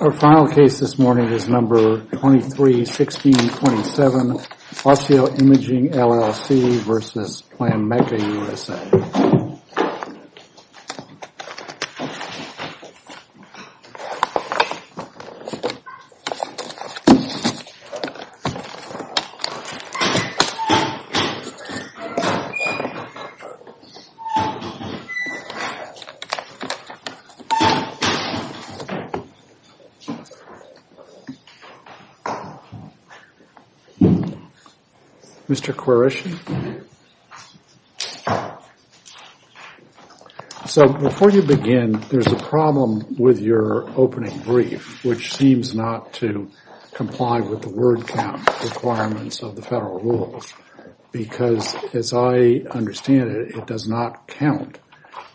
Our final case this morning is number 231627, Osseo Imaging, LLC v. Planmeca USA. Mr. Quarish, so before you begin, there's a problem with your opening brief, which seems not to comply with the word count requirements of the federal rules. Because as I understand it, it does not count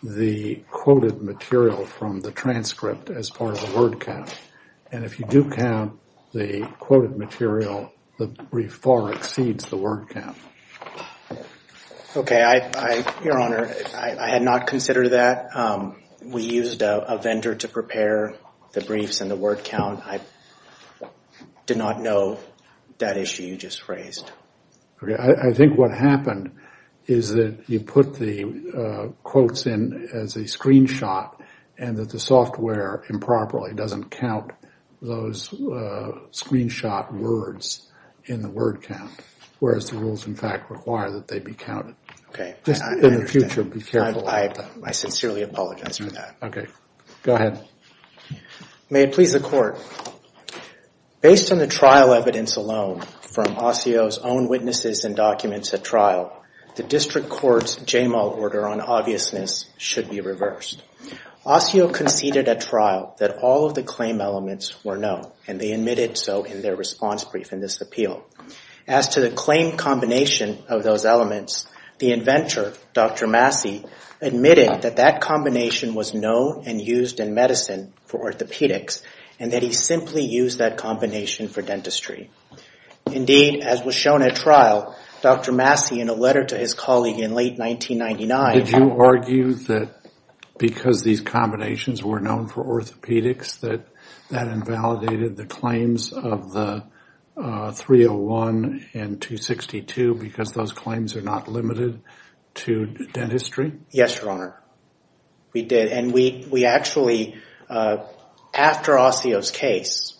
the quoted material from the transcript as part of the word count. And if you do count the quoted material, the brief far exceeds the word count. Okay. Your Honor, I had not considered that. We used a vendor to prepare the briefs and the word count. I did not know that issue you just raised. Okay. I think what happened is that you put the quotes in as a screenshot and that the software improperly doesn't count those screenshot words in the word count, whereas the rules in fact require that they be counted. Okay. I understand. In the future, be careful. I sincerely apologize for that. Okay. Go ahead. May it please the Court. Based on the trial evidence alone from Osseo's own witnesses and documents at trial, the district court's JMO order on obviousness should be reversed. Osseo conceded at trial that all of the claim elements were known, and they admitted so in their response brief in this appeal. As to the claim combination of those elements, the inventor, Dr. Massey, admitted that that combination was known and used in medicine for orthopedics, and that he simply used that combination for dentistry. Indeed, as was shown at trial, Dr. Massey, in a letter to his colleague in late 1999, Did you argue that because these combinations were known for orthopedics that that invalidated the claims of the 301 and 262 because those claims are not limited to dentistry? Yes, Your Honor. We did. Actually, after Osseo's case,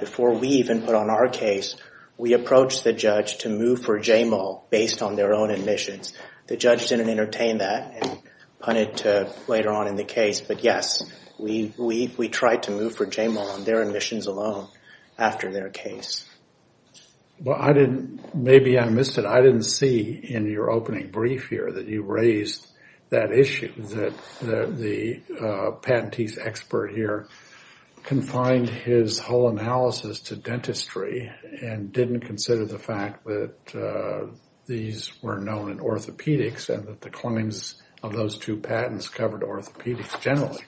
before we even put on our case, we approached the judge to move for JMO based on their own admissions. The judge didn't entertain that and punted to later on in the case, but yes, we tried to move for JMO on their admissions alone after their case. Maybe I missed it. I didn't see in your opening brief here that you raised that issue that the patentee's expert here confined his whole analysis to dentistry and didn't consider the fact that these were known in orthopedics and that the claims of those two patents covered orthopedics generally.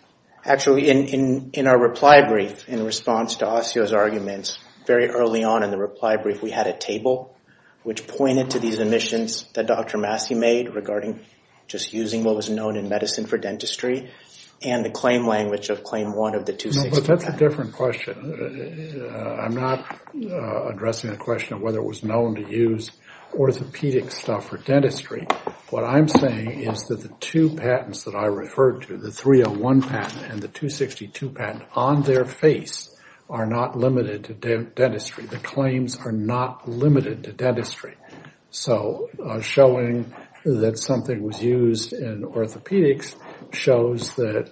Actually, in our reply brief, in response to Osseo's arguments, very early on in the reply brief, we had a table which pointed to these admissions that Dr. Massey made regarding just using what was known in medicine for dentistry and the claim language of claim one of the 262 patents. And the 262 patent on their face are not limited to dentistry. The claims are not limited to dentistry. So showing that something was used in orthopedics shows that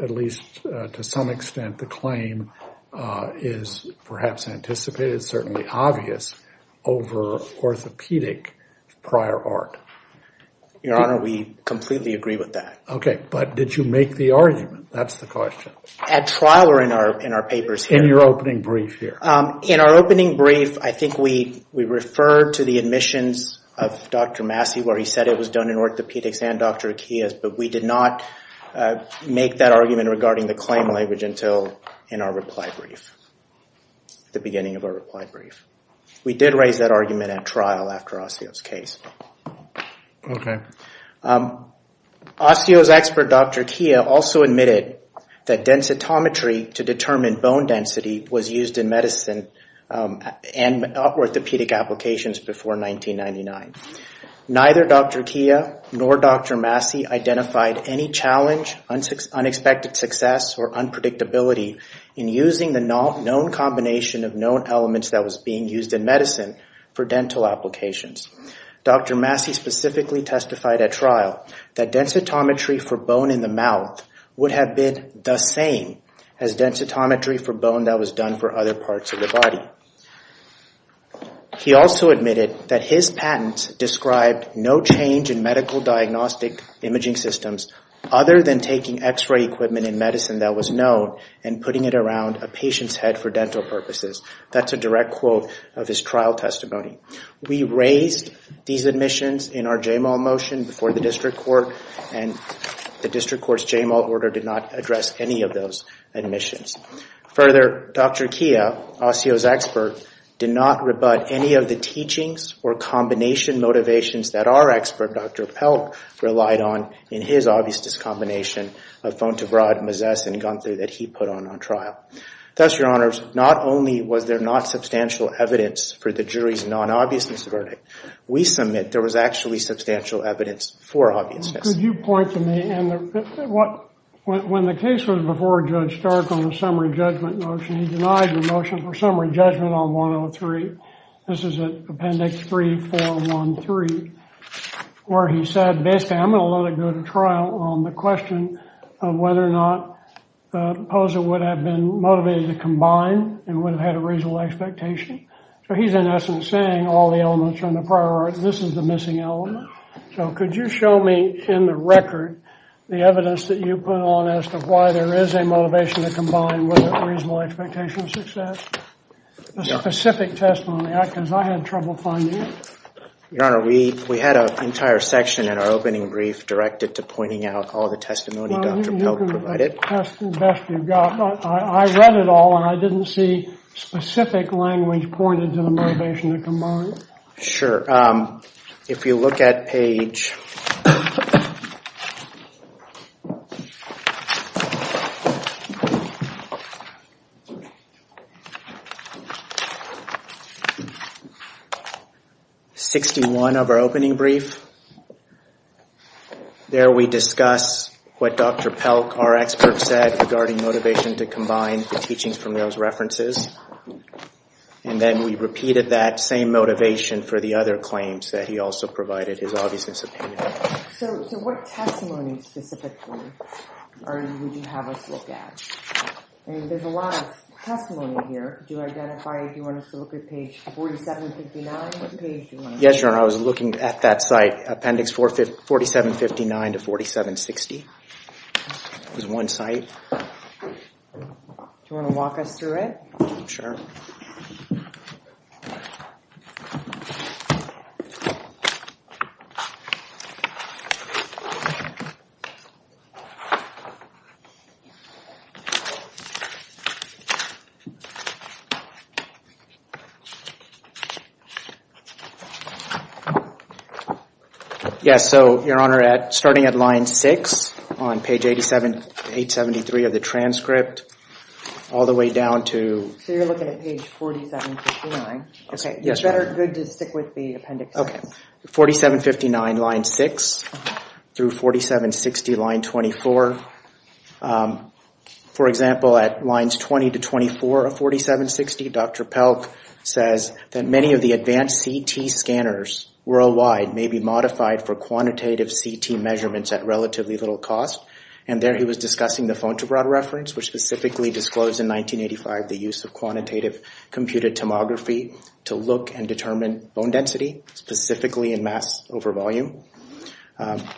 at least to some extent the claim is perhaps anticipated, certainly obvious over orthopedic prior art. Your Honor, we completely agree with that. Okay, but did you make the argument? That's the question. At trial or in our papers here? In your opening brief here. In our opening brief, I think we referred to the admissions of Dr. Massey where he said it was done in orthopedics and Dr. Akiyos, but we did not make that argument regarding the claim language until in our reply brief, the beginning of our reply brief. We did raise that argument at trial after Osseo's case. Okay. Osseo's expert Dr. Kia also admitted that densitometry to determine bone density was used in medicine and orthopedic applications before 1999. Neither Dr. Kia nor Dr. Massey identified any challenge, unexpected success or unpredictability in using the known combination of known elements that was being used in medicine for dental applications. Dr. Massey specifically testified at trial that densitometry for bone in the mouth would have been the same as densitometry for bone that was done for other parts of the body. He also admitted that his patents described no change in medical diagnostic imaging systems other than taking x-ray equipment in medicine that was known and putting it around a patient's head for dental purposes. That's a direct quote of his trial testimony. We raised these admissions in our J-Mal motion before the district court and the district court's J-Mal order did not address any of those admissions. Further, Dr. Kia, Osseo's expert, did not rebut any of the teachings or combination motivations that our expert, Dr. Pelk, relied on in his obvious discombination of Fontevrade, Mazesse, and Gunther that he put on trial. Thus, Your Honors, not only was there not substantial evidence for the jury's non-obviousness verdict, we submit there was actually substantial evidence for obviousness. Could you point to me, when the case was before Judge Stark on the summary judgment motion, he denied the motion for summary judgment on 103. This is Appendix 3413, where he said, basically, I'm going to let it go to trial on the question of whether or not the proposal would have been motivated to combine and would have had a reasonable expectation. So he's, in essence, saying all the elements are in the prior article. This is the missing element. So could you show me in the record the evidence that you put on as to why there is a motivation to combine with a reasonable expectation of success? A specific testimony, because I had trouble finding it. Your Honor, we had an entire section in our opening brief directed to pointing out all the testimony Dr. Pelk provided. Well, you can test the best you've got. I read it all, and I didn't see specific language pointed to the motivation to combine. Sure. If you look at page 61 of our opening brief, there we discuss what Dr. Pelk, our expert, said regarding motivation to combine the teachings from those references. And then we repeated that same motivation for the other claims that he also provided his obviousness opinion. So what testimony specifically would you have us look at? I mean, there's a lot of testimony here. Do you want us to look at page 4759? Yes, Your Honor. I was looking at that site, Appendix 4759 to 4760. It was one site. Do you want to walk us through it? Sure. Yes, so, Your Honor, starting at line 6 on page 87-873 of the transcript, all the way down to- It's better to stick with the appendix. Okay. 4759, line 6, through 4760, line 24. For example, at lines 20 to 24 of 4760, Dr. Pelk says that many of the advanced CT scanners worldwide may be modified for quantitative CT measurements at relatively little cost. And there he was discussing the Fontebrade reference, which specifically disclosed in 1985 the use of quantitative computed tomography to look and determine bone density, specifically in mass over volume.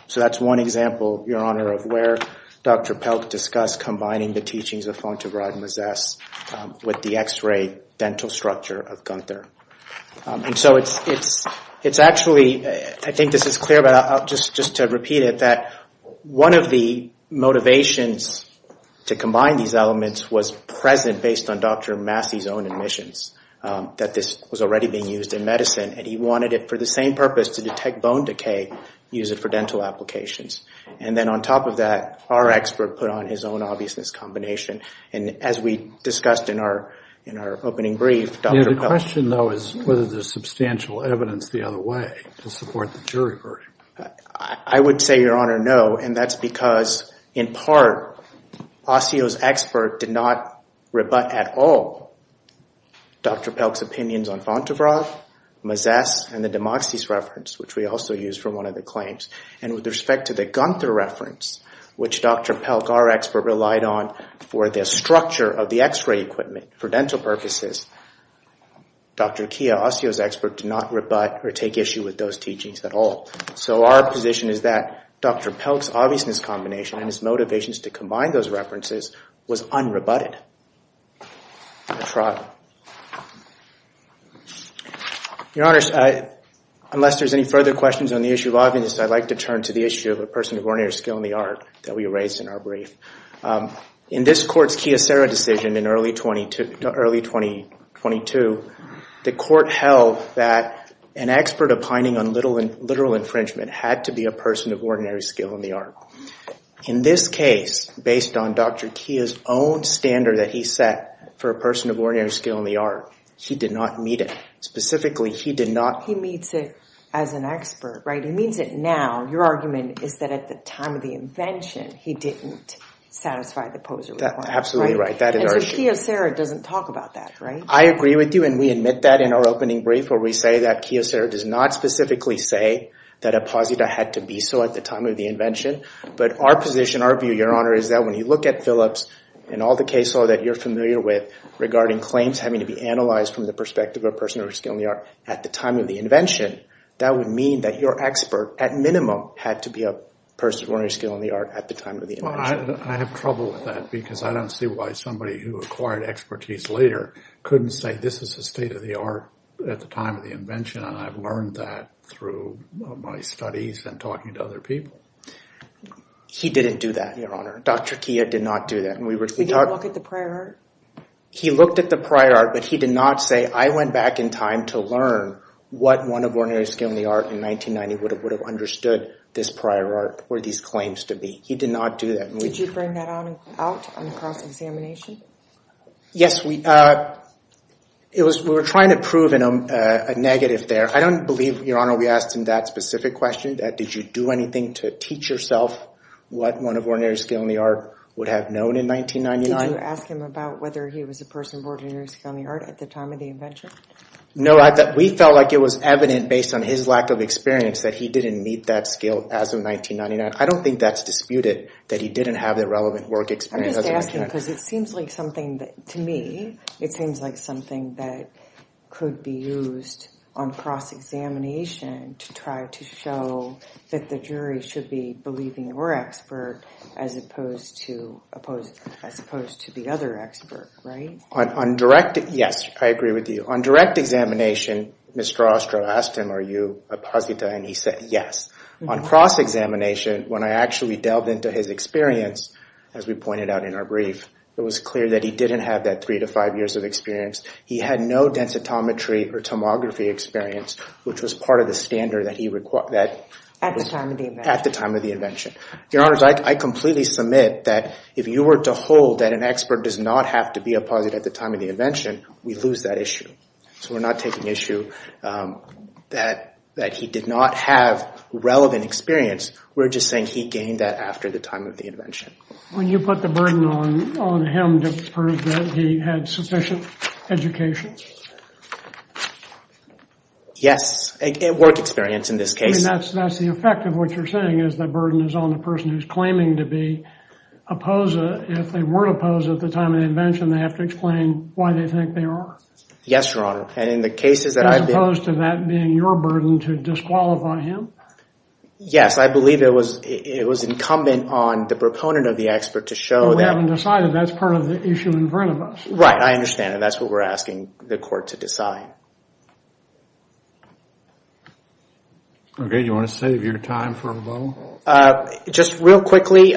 So that's one example, Your Honor, of where Dr. Pelk discussed combining the teachings of Fontebrade-Mosses with the X-ray dental structure of Gunther. And so it's actually- I think this is clear, but just to repeat it, that one of the motivations to combine these elements was present based on Dr. Massey's own admissions, that this was already being used in medicine. And he wanted it for the same purpose, to detect bone decay, use it for dental applications. And then on top of that, our expert put on his own obviousness combination. And as we discussed in our opening brief, Dr. Pelk- My question, though, is whether there's substantial evidence the other way to support the jury verdict. I would say, Your Honor, no. And that's because, in part, OSSEO's expert did not rebut at all Dr. Pelk's opinions on Fontebrade, Mosses, and the Demoxys reference, which we also used for one of the claims. And with respect to the Gunther reference, which Dr. Pelk, our expert, relied on for the structure of the X-ray equipment for dental purposes, Dr. Kia, OSSEO's expert, did not rebut or take issue with those teachings at all. So our position is that Dr. Pelk's obviousness combination and his motivations to combine those references was unrebutted. Your Honor, unless there's any further questions on the issue of obviousness, I'd like to turn to the issue of a person of ordinary skill in the art that we raised in our brief. In this court's Kia-Serra decision in early 2022, the court held that an expert opining on literal infringement had to be a person of ordinary skill in the art. In this case, based on Dr. Kia's own standard that he set for a person of ordinary skill in the art, he did not meet it. Specifically, he did not... He meets it as an expert, right? He meets it now. Your argument is that at the time of the invention, he didn't satisfy the POSER requirement, right? Absolutely right. And so Kia-Serra doesn't talk about that, right? I agree with you, and we admit that in our opening brief where we say that Kia-Serra does not specifically say that a POSER had to be so at the time of the invention. But our position, our view, Your Honor, is that when you look at Phillips and all the case law that you're familiar with regarding claims having to be analyzed from the perspective of a person of ordinary skill in the art at the time of the invention, that would mean that your expert, at minimum, had to be a person of ordinary skill in the art at the time of the invention. Well, I have trouble with that because I don't see why somebody who acquired expertise later couldn't say this is the state of the art at the time of the invention, and I've learned that through my studies and talking to other people. He didn't do that, Your Honor. Dr. Kia did not do that. He didn't look at the prior art? He looked at the prior art, but he did not say, I went back in time to learn what one of ordinary skill in the art in 1990 would have understood this prior art were these claims to be. He did not do that. Did you bring that out on the cross-examination? Yes, we were trying to prove a negative there. I don't believe, Your Honor, we asked him that specific question, that did you do anything to teach yourself what one of ordinary skill in the art would have known in 1999. Did you ask him about whether he was a person of ordinary skill in the art at the time of the invention? No, we felt like it was evident based on his lack of experience that he didn't meet that skill as of 1999. I don't think that's disputed, that he didn't have the relevant work experience. I'm just asking because it seems like something that, to me, it seems like something that could be used on cross-examination to try to show that the jury should be believing your expert as opposed to the other expert, right? Yes, I agree with you. On direct examination, Mr. Ostro asked him, are you a posita, and he said yes. On cross-examination, when I actually delved into his experience, as we pointed out in our brief, it was clear that he didn't have that three to five years of experience. He had no densitometry or tomography experience, which was part of the standard that he required. At the time of the invention. At the time of the invention. Your Honor, I completely submit that if you were to hold that an expert does not have to be a posita at the time of the invention, we lose that issue. So we're not taking issue that he did not have relevant experience. We're just saying he gained that after the time of the invention. When you put the burden on him to prove that he had sufficient education? Yes, work experience in this case. That's the effect of what you're saying is the burden is on the person who's claiming to be a posita. If they were a posita at the time of the invention, they have to explain why they think they are. Yes, Your Honor. As opposed to that being your burden to disqualify him? Yes, I believe it was incumbent on the proponent of the expert to show that. We haven't decided. That's part of the issue in front of us. Right, I understand. That's what we're asking the court to decide. Okay, do you want to save your time for a rebuttal? Just real quickly,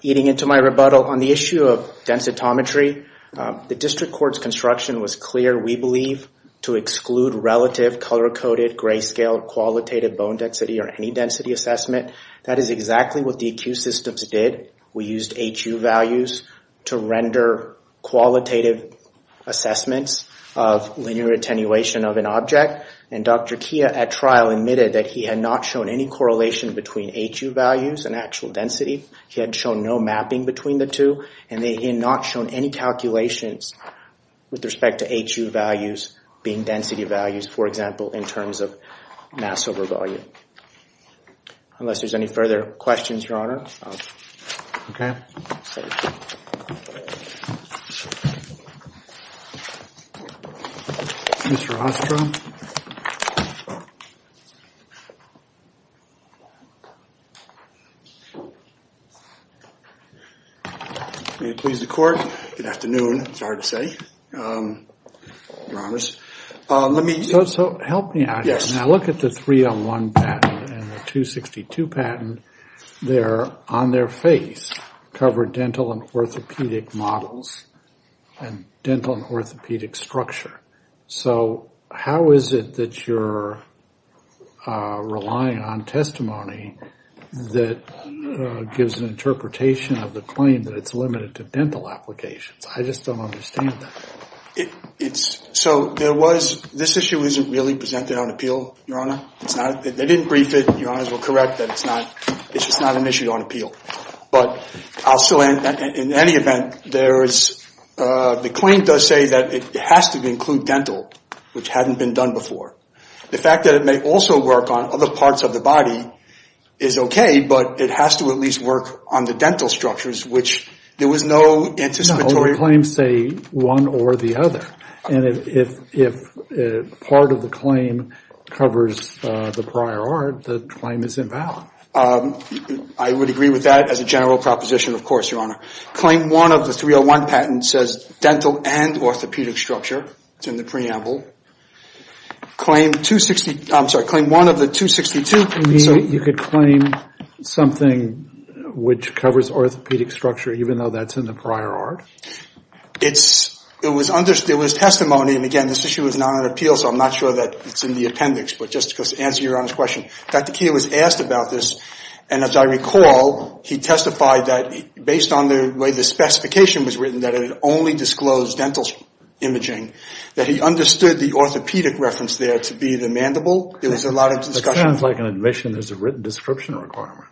eating into my rebuttal on the issue of densitometry. The district court's construction was clear. We believe to exclude relative color-coded, gray-scaled, qualitative bone density or any density assessment. That is exactly what the acute systems did. We used HU values to render qualitative assessments of linear attenuation of an object. And Dr. Kia at trial admitted that he had not shown any correlation between HU values and actual density. He had shown no mapping between the two. And he had not shown any calculations with respect to HU values being density values, for example, in terms of mass over volume. Unless there's any further questions, Your Honor. Okay. Mr. Ostrom. May it please the court. Good afternoon. It's hard to say, Your Honors. So help me out here. Now look at the 301 patent and the 262 patent. They're on their face, cover dental and orthopedic models and dental and orthopedic structure. So how is it that you're relying on testimony that gives an interpretation of the claim that it's limited to dental applications? I just don't understand that. So this issue isn't really presented on appeal, Your Honor. They didn't brief it. Your Honors were correct that it's just not an issue on appeal. But in any event, the claim does say that it has to include dental, which hadn't been done before. The fact that it may also work on other parts of the body is okay, but it has to at least work on the dental structures, which there was no anticipatory. The claims say one or the other. And if part of the claim covers the prior art, the claim is invalid. I would agree with that as a general proposition, of course, Your Honor. Claim one of the 301 patent says dental and orthopedic structure. It's in the preamble. Claim 260, I'm sorry, claim one of the 262. So you could claim something which covers orthopedic structure, even though that's in the prior art? It was testimony. And, again, this issue is not on appeal, so I'm not sure that it's in the appendix. But just to answer Your Honor's question, Dr. Keo was asked about this. And as I recall, he testified that based on the way the specification was written, that it only disclosed dental imaging, that he understood the orthopedic reference there to be the mandible. There was a lot of discussion. That sounds like an admission. There's a written description requirement.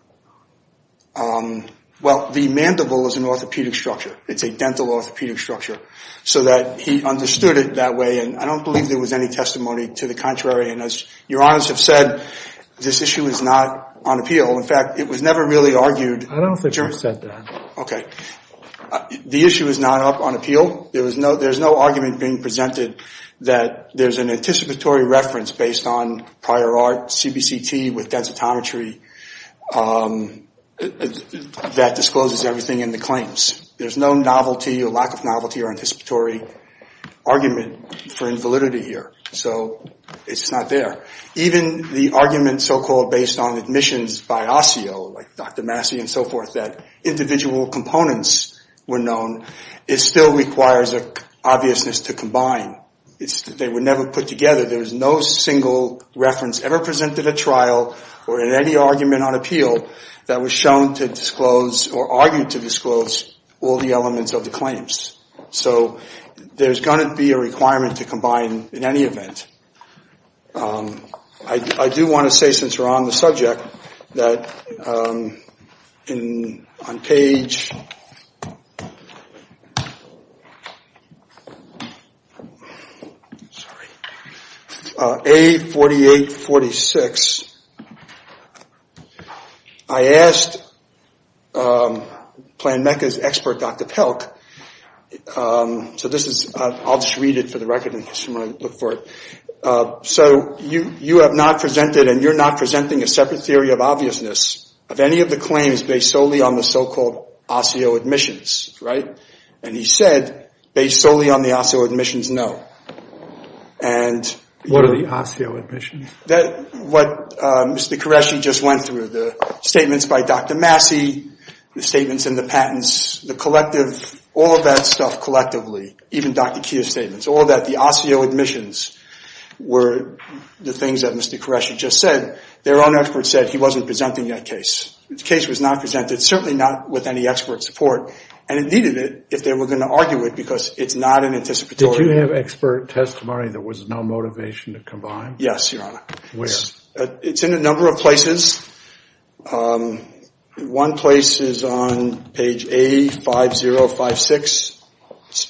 Well, the mandible is an orthopedic structure. It's a dental orthopedic structure. So that he understood it that way. And I don't believe there was any testimony to the contrary. And as Your Honors have said, this issue is not on appeal. In fact, it was never really argued. I don't think you said that. Okay. The issue is not up on appeal. There's no argument being presented that there's an anticipatory reference based on prior art, CBCT with densitometry, that discloses everything in the claims. There's no novelty or lack of novelty or anticipatory argument for invalidity here. So it's not there. Even the argument so-called based on admissions by OSSEO, like Dr. Massey and so forth, that individual components were known, it still requires an obviousness to combine. They were never put together. There was no single reference ever presented at trial or in any argument on appeal that was shown to disclose or argued to disclose all the elements of the claims. So there's going to be a requirement to combine in any event. I do want to say, since we're on the subject, that on page A4846, I asked PlanMECA's expert, Dr. Pelk, so this is, I'll just read it for the record in case you want to look for it. So you have not presented and you're not presenting a separate theory of obviousness of any of the claims based solely on the so-called OSSEO admissions, right? And he said, based solely on the OSSEO admissions, no. What are the OSSEO admissions? That's what Mr. Qureshi just went through, the statements by Dr. Massey, the statements in the patents, the collective, all of that stuff collectively, even Dr. Kia's statements, all of that, the OSSEO admissions were the things that Mr. Qureshi just said. Their own experts said he wasn't presenting that case. The case was not presented, certainly not with any expert support, and it needed it if they were going to argue it because it's not an anticipatory. Did you have expert testimony? There was no motivation to combine? Yes, Your Honor. Where? It's in a number of places. One place is on page A5056.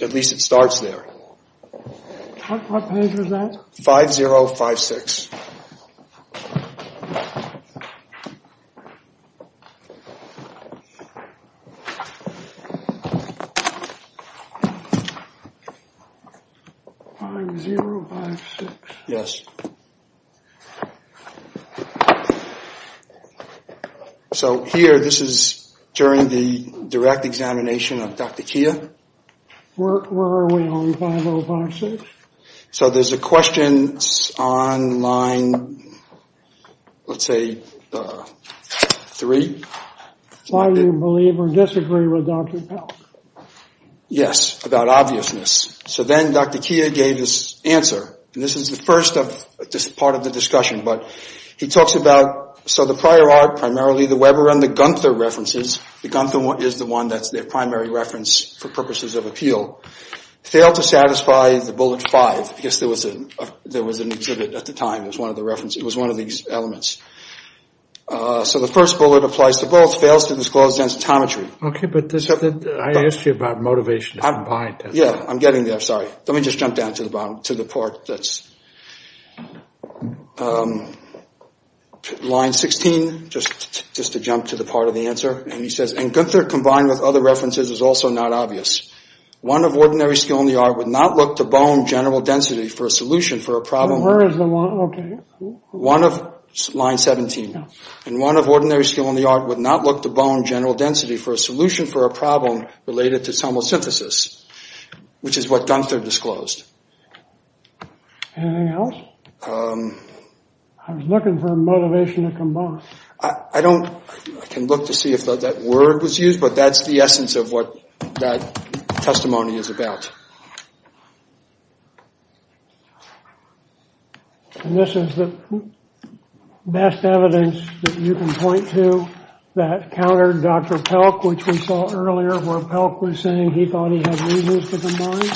At least it starts there. What page is that? 5056. 5056. Yes. So here, this is during the direct examination of Dr. Kia. Where are we on 5056? So there's a question on line, let's say, three. Why do you believe or disagree with Dr. Pell? Yes, about obviousness. So then Dr. Kia gave his answer, and this is the first part of the discussion, but he talks about, so the prior art, primarily the Weber and the Gunther references, the Gunther is the one that's their primary reference for purposes of appeal, failed to satisfy the bullet five because there was an exhibit at the time. It was one of these elements. So the first bullet applies to both, fails to disclose densitometry. Okay, but I asked you about motivation to combine. Yeah, I'm getting there, sorry. Let me just jump down to the part that's line 16, just to jump to the part of the answer. And he says, and Gunther combined with other references is also not obvious. One of ordinary skill in the art would not look to bone general density for a solution for a problem. Where is the one, okay. One of line 17. And one of ordinary skill in the art would not look to bone general density for a solution for a problem related to somosynthesis, which is what Gunther disclosed. Anything else? I was looking for motivation to combine. I can look to see if that word was used, but that's the essence of what that testimony is about. And this is the best evidence that you can point to that countered Dr. Pelk, which we saw earlier where Pelk was saying he thought he had reasons to combine.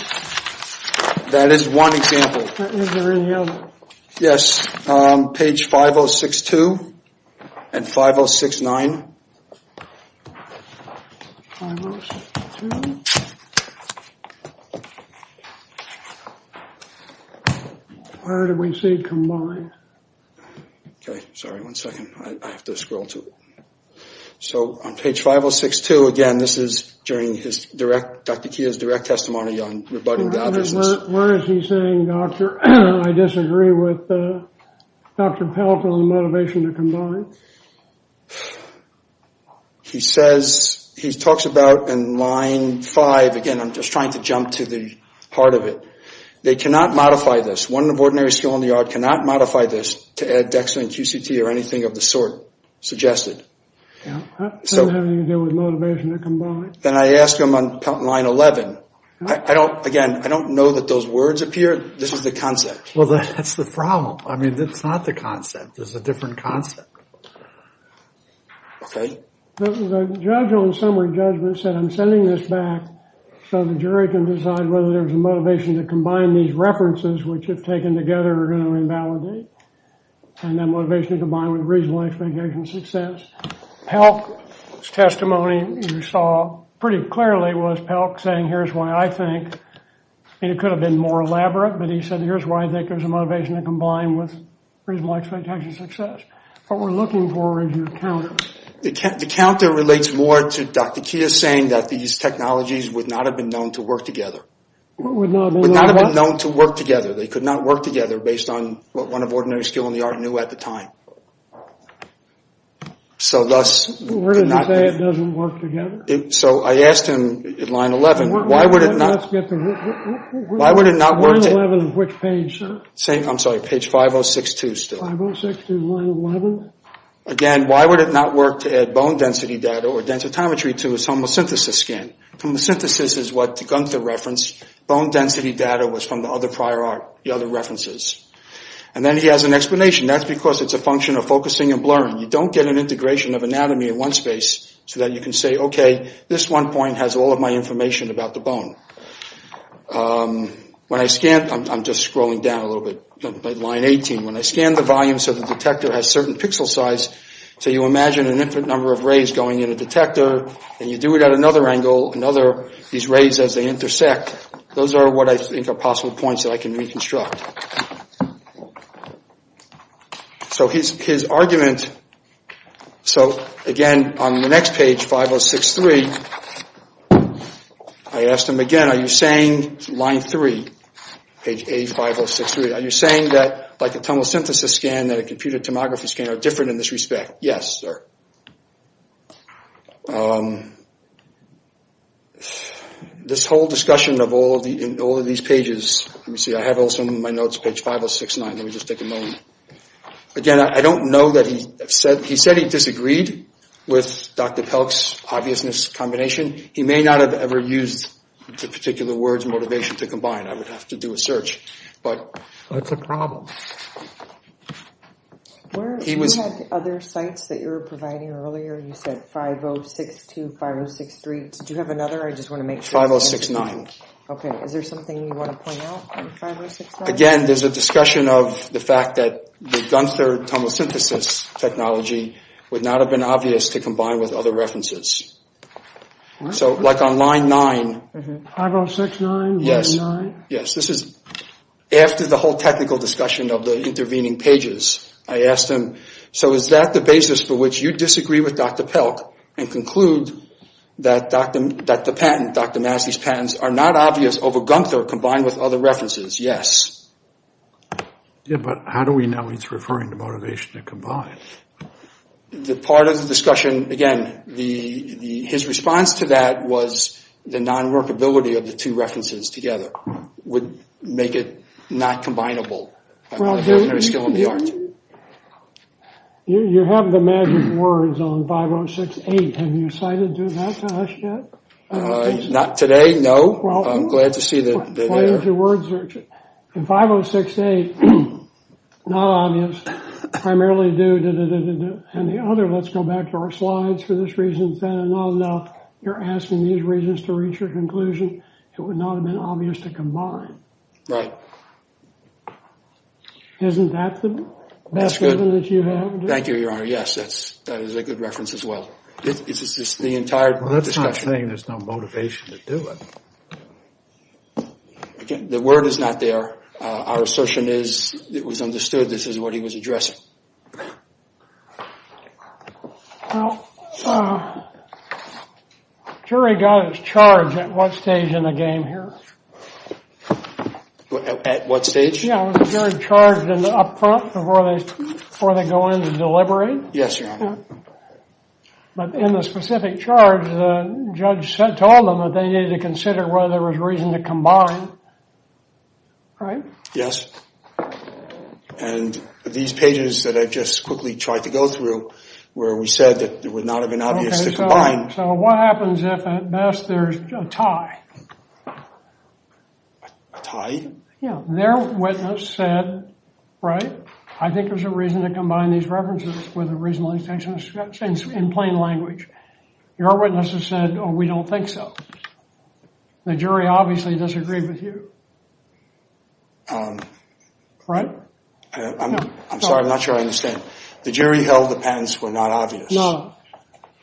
That is one example. Is there any other? Yes. Page 5062 and 5069. Where do we see combine? Sorry, one second. I have to scroll to it. So on page 5062, again, this is during his direct, Dr. Kia's direct testimony on rebutting Gunther's. Where is he saying, doctor, I disagree with Dr. Pelk on the motivation to combine? He says, he talks about in line five. Again, I'm just trying to jump to the heart of it. They cannot modify this. One of ordinary skill in the art cannot modify this to add dex and QCT or anything of the sort suggested. So how do you deal with motivation to combine? Then I asked him on line 11. Again, I don't know that those words appear. This is the concept. Well, that's the problem. I mean, that's not the concept. There's a different concept. Okay. The judge on summary judgment said, I'm sending this back so the jury can decide whether there's a motivation to combine these references, which if taken together are going to invalidate. And then motivation to combine with reasonable expectation of success. Pelk's testimony you saw pretty clearly was Pelk saying, here's why I think, and it could have been more elaborate, but he said, here's why I think there's a motivation to combine with reasonable expectation of success. What we're looking for is your counter. The counter relates more to Dr. Kia saying that these technologies would not have been known to work together. Would not have been known what? Would not have been known to work together. They could not work together based on what one of ordinary skill in the art knew at the time. So thus. We're going to say it doesn't work together. So I asked him at line 11, why would it not? Why would it not work? Line 11, which page, sir? I'm sorry, page 5062 still. 5062, line 11. Again, why would it not work to add bone density data or densitometry to his homosynthesis scan? Homosynthesis is what Gunther referenced. Bone density data was from the other prior art, the other references. And then he has an explanation. That's because it's a function of focusing and blurring. You don't get an integration of anatomy in one space so that you can say, okay, this one point has all of my information about the bone. When I scan, I'm just scrolling down a little bit, line 18. When I scan the volume so the detector has certain pixel size, so you imagine an infinite number of rays going in a detector and you do it at another angle, these rays as they intersect, those are what I think are possible points that I can reconstruct. So his argument, so again, on the next page, 5063, I asked him again, are you saying, line 3, page A5063, are you saying that like a tomosynthesis scan and a computer tomography scan are different in this respect? Yes, sir. This whole discussion of all of these pages, let me see, I have also in my notes page 5069. Let me just take a moment. Again, I don't know that he said he disagreed with Dr. Pelk's obviousness combination. He may not have ever used the particular words motivation to combine. I would have to do a search. That's a problem. You had other sites that you were providing earlier. You said 5062, 5063. Did you have another? I just want to make sure. 5069. Okay. Is there something you want to point out on 5069? Again, there's a discussion of the fact that the Gunther tomosynthesis technology would not have been obvious to combine with other references. So like on line 9. 5069, line 9? Yes, this is after the whole technical discussion of the intervening pages. I asked him, so is that the basis for which you disagree with Dr. Pelk and conclude that the patent, Dr. Massey's patents, are not obvious over Gunther combined with other references? Yes. Yeah, but how do we know he's referring to motivation to combine? The part of the discussion, again, his response to that was the non-workability of the two references together would make it not combinable. You have the magic words on 5068. Have you cited that to us yet? Not today, no. I'm glad to see that they're there. 5068, not obvious. Primarily due to the other. Let's go back to our slides. For this reason, not enough. You're asking these reasons to reach a conclusion. It would not have been obvious to combine. Right. Isn't that the best evidence you have? Thank you, Your Honor. Yes, that is a good reference as well. It's just the entire discussion. Well, that's not saying there's no motivation to do it. The word is not there. Our assertion is it was understood this is what he was addressing. Well, the jury got its charge at what stage in the game here? At what stage? Yeah, was the jury charged up front before they go in to deliberate? Yes, Your Honor. But in the specific charge, the judge told them that they needed to consider whether there was reason to combine. Right? Yes. And these pages that I just quickly tried to go through where we said that it would not have been obvious to combine. So what happens if at best there's a tie? A tie? Yeah. Their witness said, right, I think there's a reason to combine these references with a reasonable intention in plain language. Your witness has said, oh, we don't think so. The jury obviously disagreed with you. Right? I'm sorry, I'm not sure I understand. The jury held the patents were not obvious. No.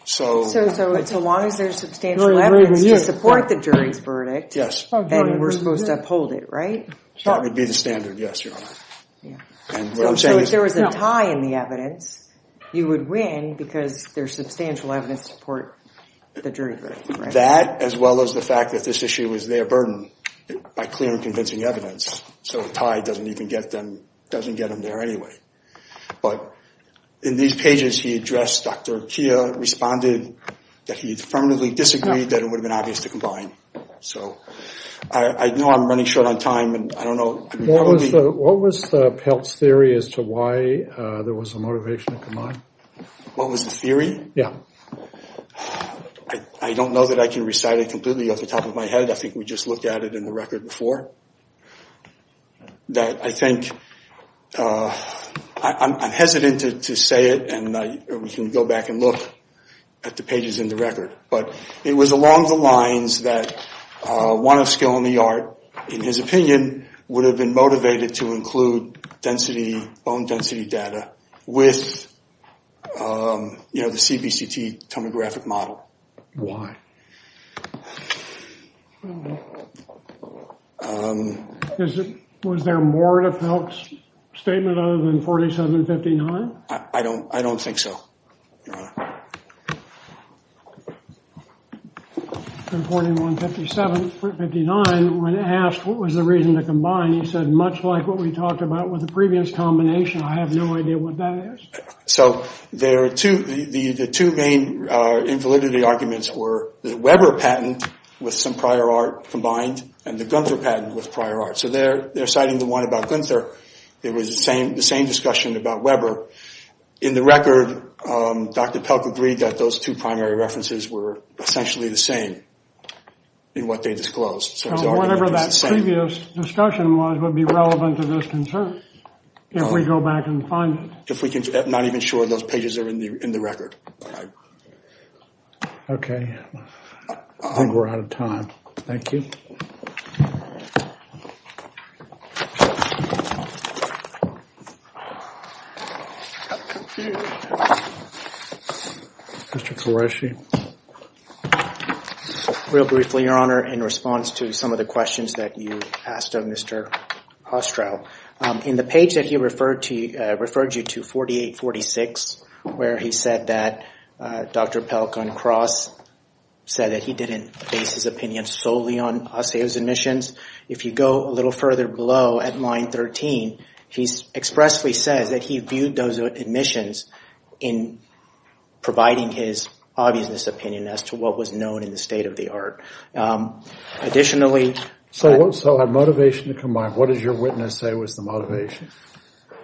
So as long as there's substantial evidence to support the jury's verdict, then we're supposed to uphold it, right? That would be the standard, yes, Your Honor. So if there was a tie in the evidence, you would win because there's substantial evidence to support the jury's verdict. That as well as the fact that this issue is their burden by clear and convincing evidence. So a tie doesn't even get them, doesn't get them there anyway. But in these pages he addressed Dr. Kia, responded that he firmly disagreed that it would have been obvious to combine. So I know I'm running short on time and I don't know. What was the Peltz theory as to why there was a motivation to combine? What was the theory? Yeah. I don't know that I can recite it completely off the top of my head. I think we just looked at it in the record before. That I think I'm hesitant to say it and we can go back and look at the pages in the record. But it was along the lines that one of skill in the art, in his opinion, would have been motivated to include density, bone density data with, you know, the CBCT tomographic model. Why? Was there more to Peltz' statement other than 4759? I don't, I don't think so, Your Honor. In 4759 when asked what was the reason to combine, he said much like what we talked about with the previous combination. I have no idea what that is. So there are two, the two main invalidity arguments were the Weber patent with some prior art combined and the Gunther patent with prior art. So they're citing the one about Gunther. It was the same discussion about Weber. In the record, Dr. Peltz agreed that those two primary references were essentially the same in what they disclosed. So whatever that previous discussion was would be relevant to this concern if we go back and find it. If we can, I'm not even sure those pages are in the record. Okay, I think we're out of time. Thank you. Mr. Qureshi. Real briefly, Your Honor, in response to some of the questions that you asked of Mr. Ostrow, in the page that he referred to, referred you to 4846 where he said that Dr. Peltz on cross said that he didn't base his opinion solely on Ostrow's admissions. If you go a little further below at line 13, he expressly says that he viewed those admissions in providing his obviousness opinion as to what was known in the state of the art. Additionally. So a motivation to combine. What does your witness say was the motivation?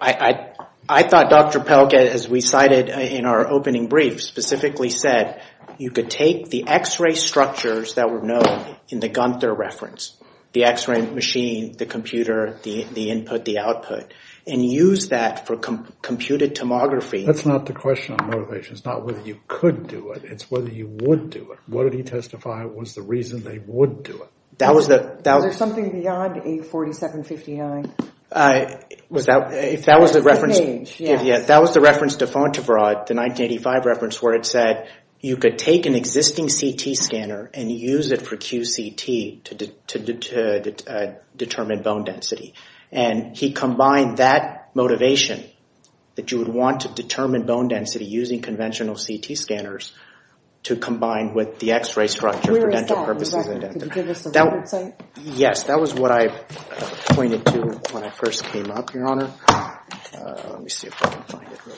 I thought Dr. Peltz, as we cited in our opening brief, specifically said you could take the X-ray structures that were known in the Gunther reference, the X-ray machine, the computer, the input, the output, and use that for computed tomography. That's not the question on motivation. It's not whether you could do it. It's whether you would do it. What did he testify was the reason they would do it? Is there something beyond 847.59? That was the reference to Fontevraud, the 1985 reference, where it said you could take an existing CT scanner and use it for QCT to determine bone density. And he combined that motivation that you would want to determine bone density using conventional CT scanners to combine with the X-ray structure for dental purposes. Where is that? Could you give us a website? Yes, that was what I pointed to when I first came up, Your Honor. Let me see if I can find it real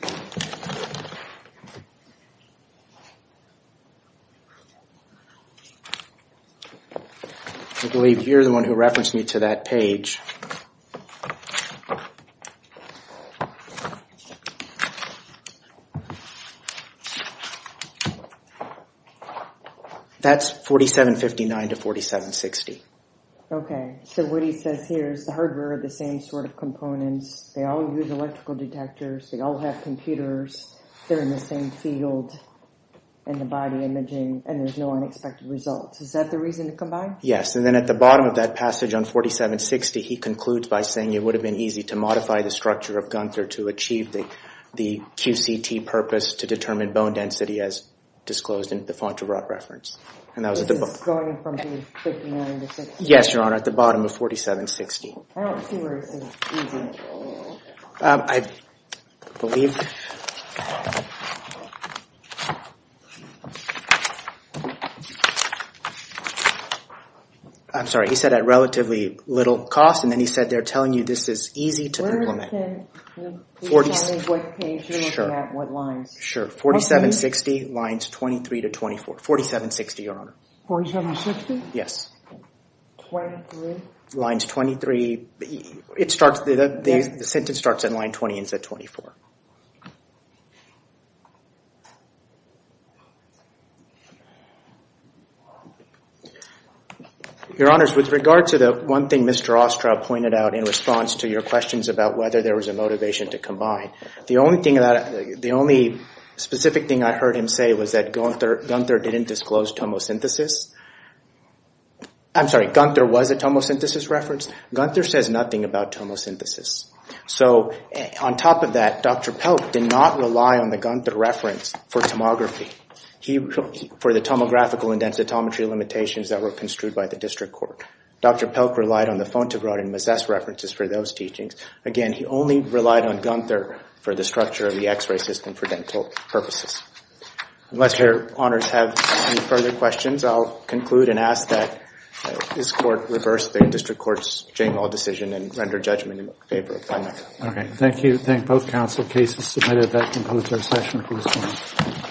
quick. I believe you're the one who referenced me to that page. That's 47.59 to 47.60. Okay. So what he says here is the hardware are the same sort of components. They all use electrical detectors. They all have computers. They're in the same field in the body imaging, and there's no unexpected results. Is that the reason to combine? Yes, and then at the bottom of that passage on 47.60, he concludes by saying it would have been easy to modify the structure of Gunther to achieve the QCT purpose to determine bone density as disclosed in the Fontevraud reference. This is going from 47.59 to 47.60? Yes, Your Honor, at the bottom of 47.60. I don't see where it says easy. I believe I'm sorry. He said at relatively little cost, and then he said they're telling you this is easy to implement. Can you tell me what page you're looking at, what lines? Sure, 47.60 lines 23 to 24. 47.60, Your Honor. 47.60? Yes. 23? The sentence starts at line 20 and ends at 24. Your Honors, with regard to the one thing Mr. Ostrow pointed out in response to your questions about whether there was a motivation to combine, the only specific thing I heard him say was that Gunther didn't disclose tomosynthesis. I'm sorry. Gunther was a tomosynthesis reference. Gunther says nothing about tomosynthesis. So on top of that, Dr. Pelk did not rely on the Gunther reference for tomography, for the tomographical and densitometry limitations that were construed by the district court. Dr. Pelk relied on the Fontevraud and Mezes references for those teachings. Again, he only relied on Gunther for the structure of the x-ray system for dental purposes. Unless Your Honors have any further questions, I'll conclude and ask that this court reverse the district court's general decision and render judgment in favor of Gunther. Okay, thank you. Thank both counsel. Case is submitted. That concludes our session for this morning.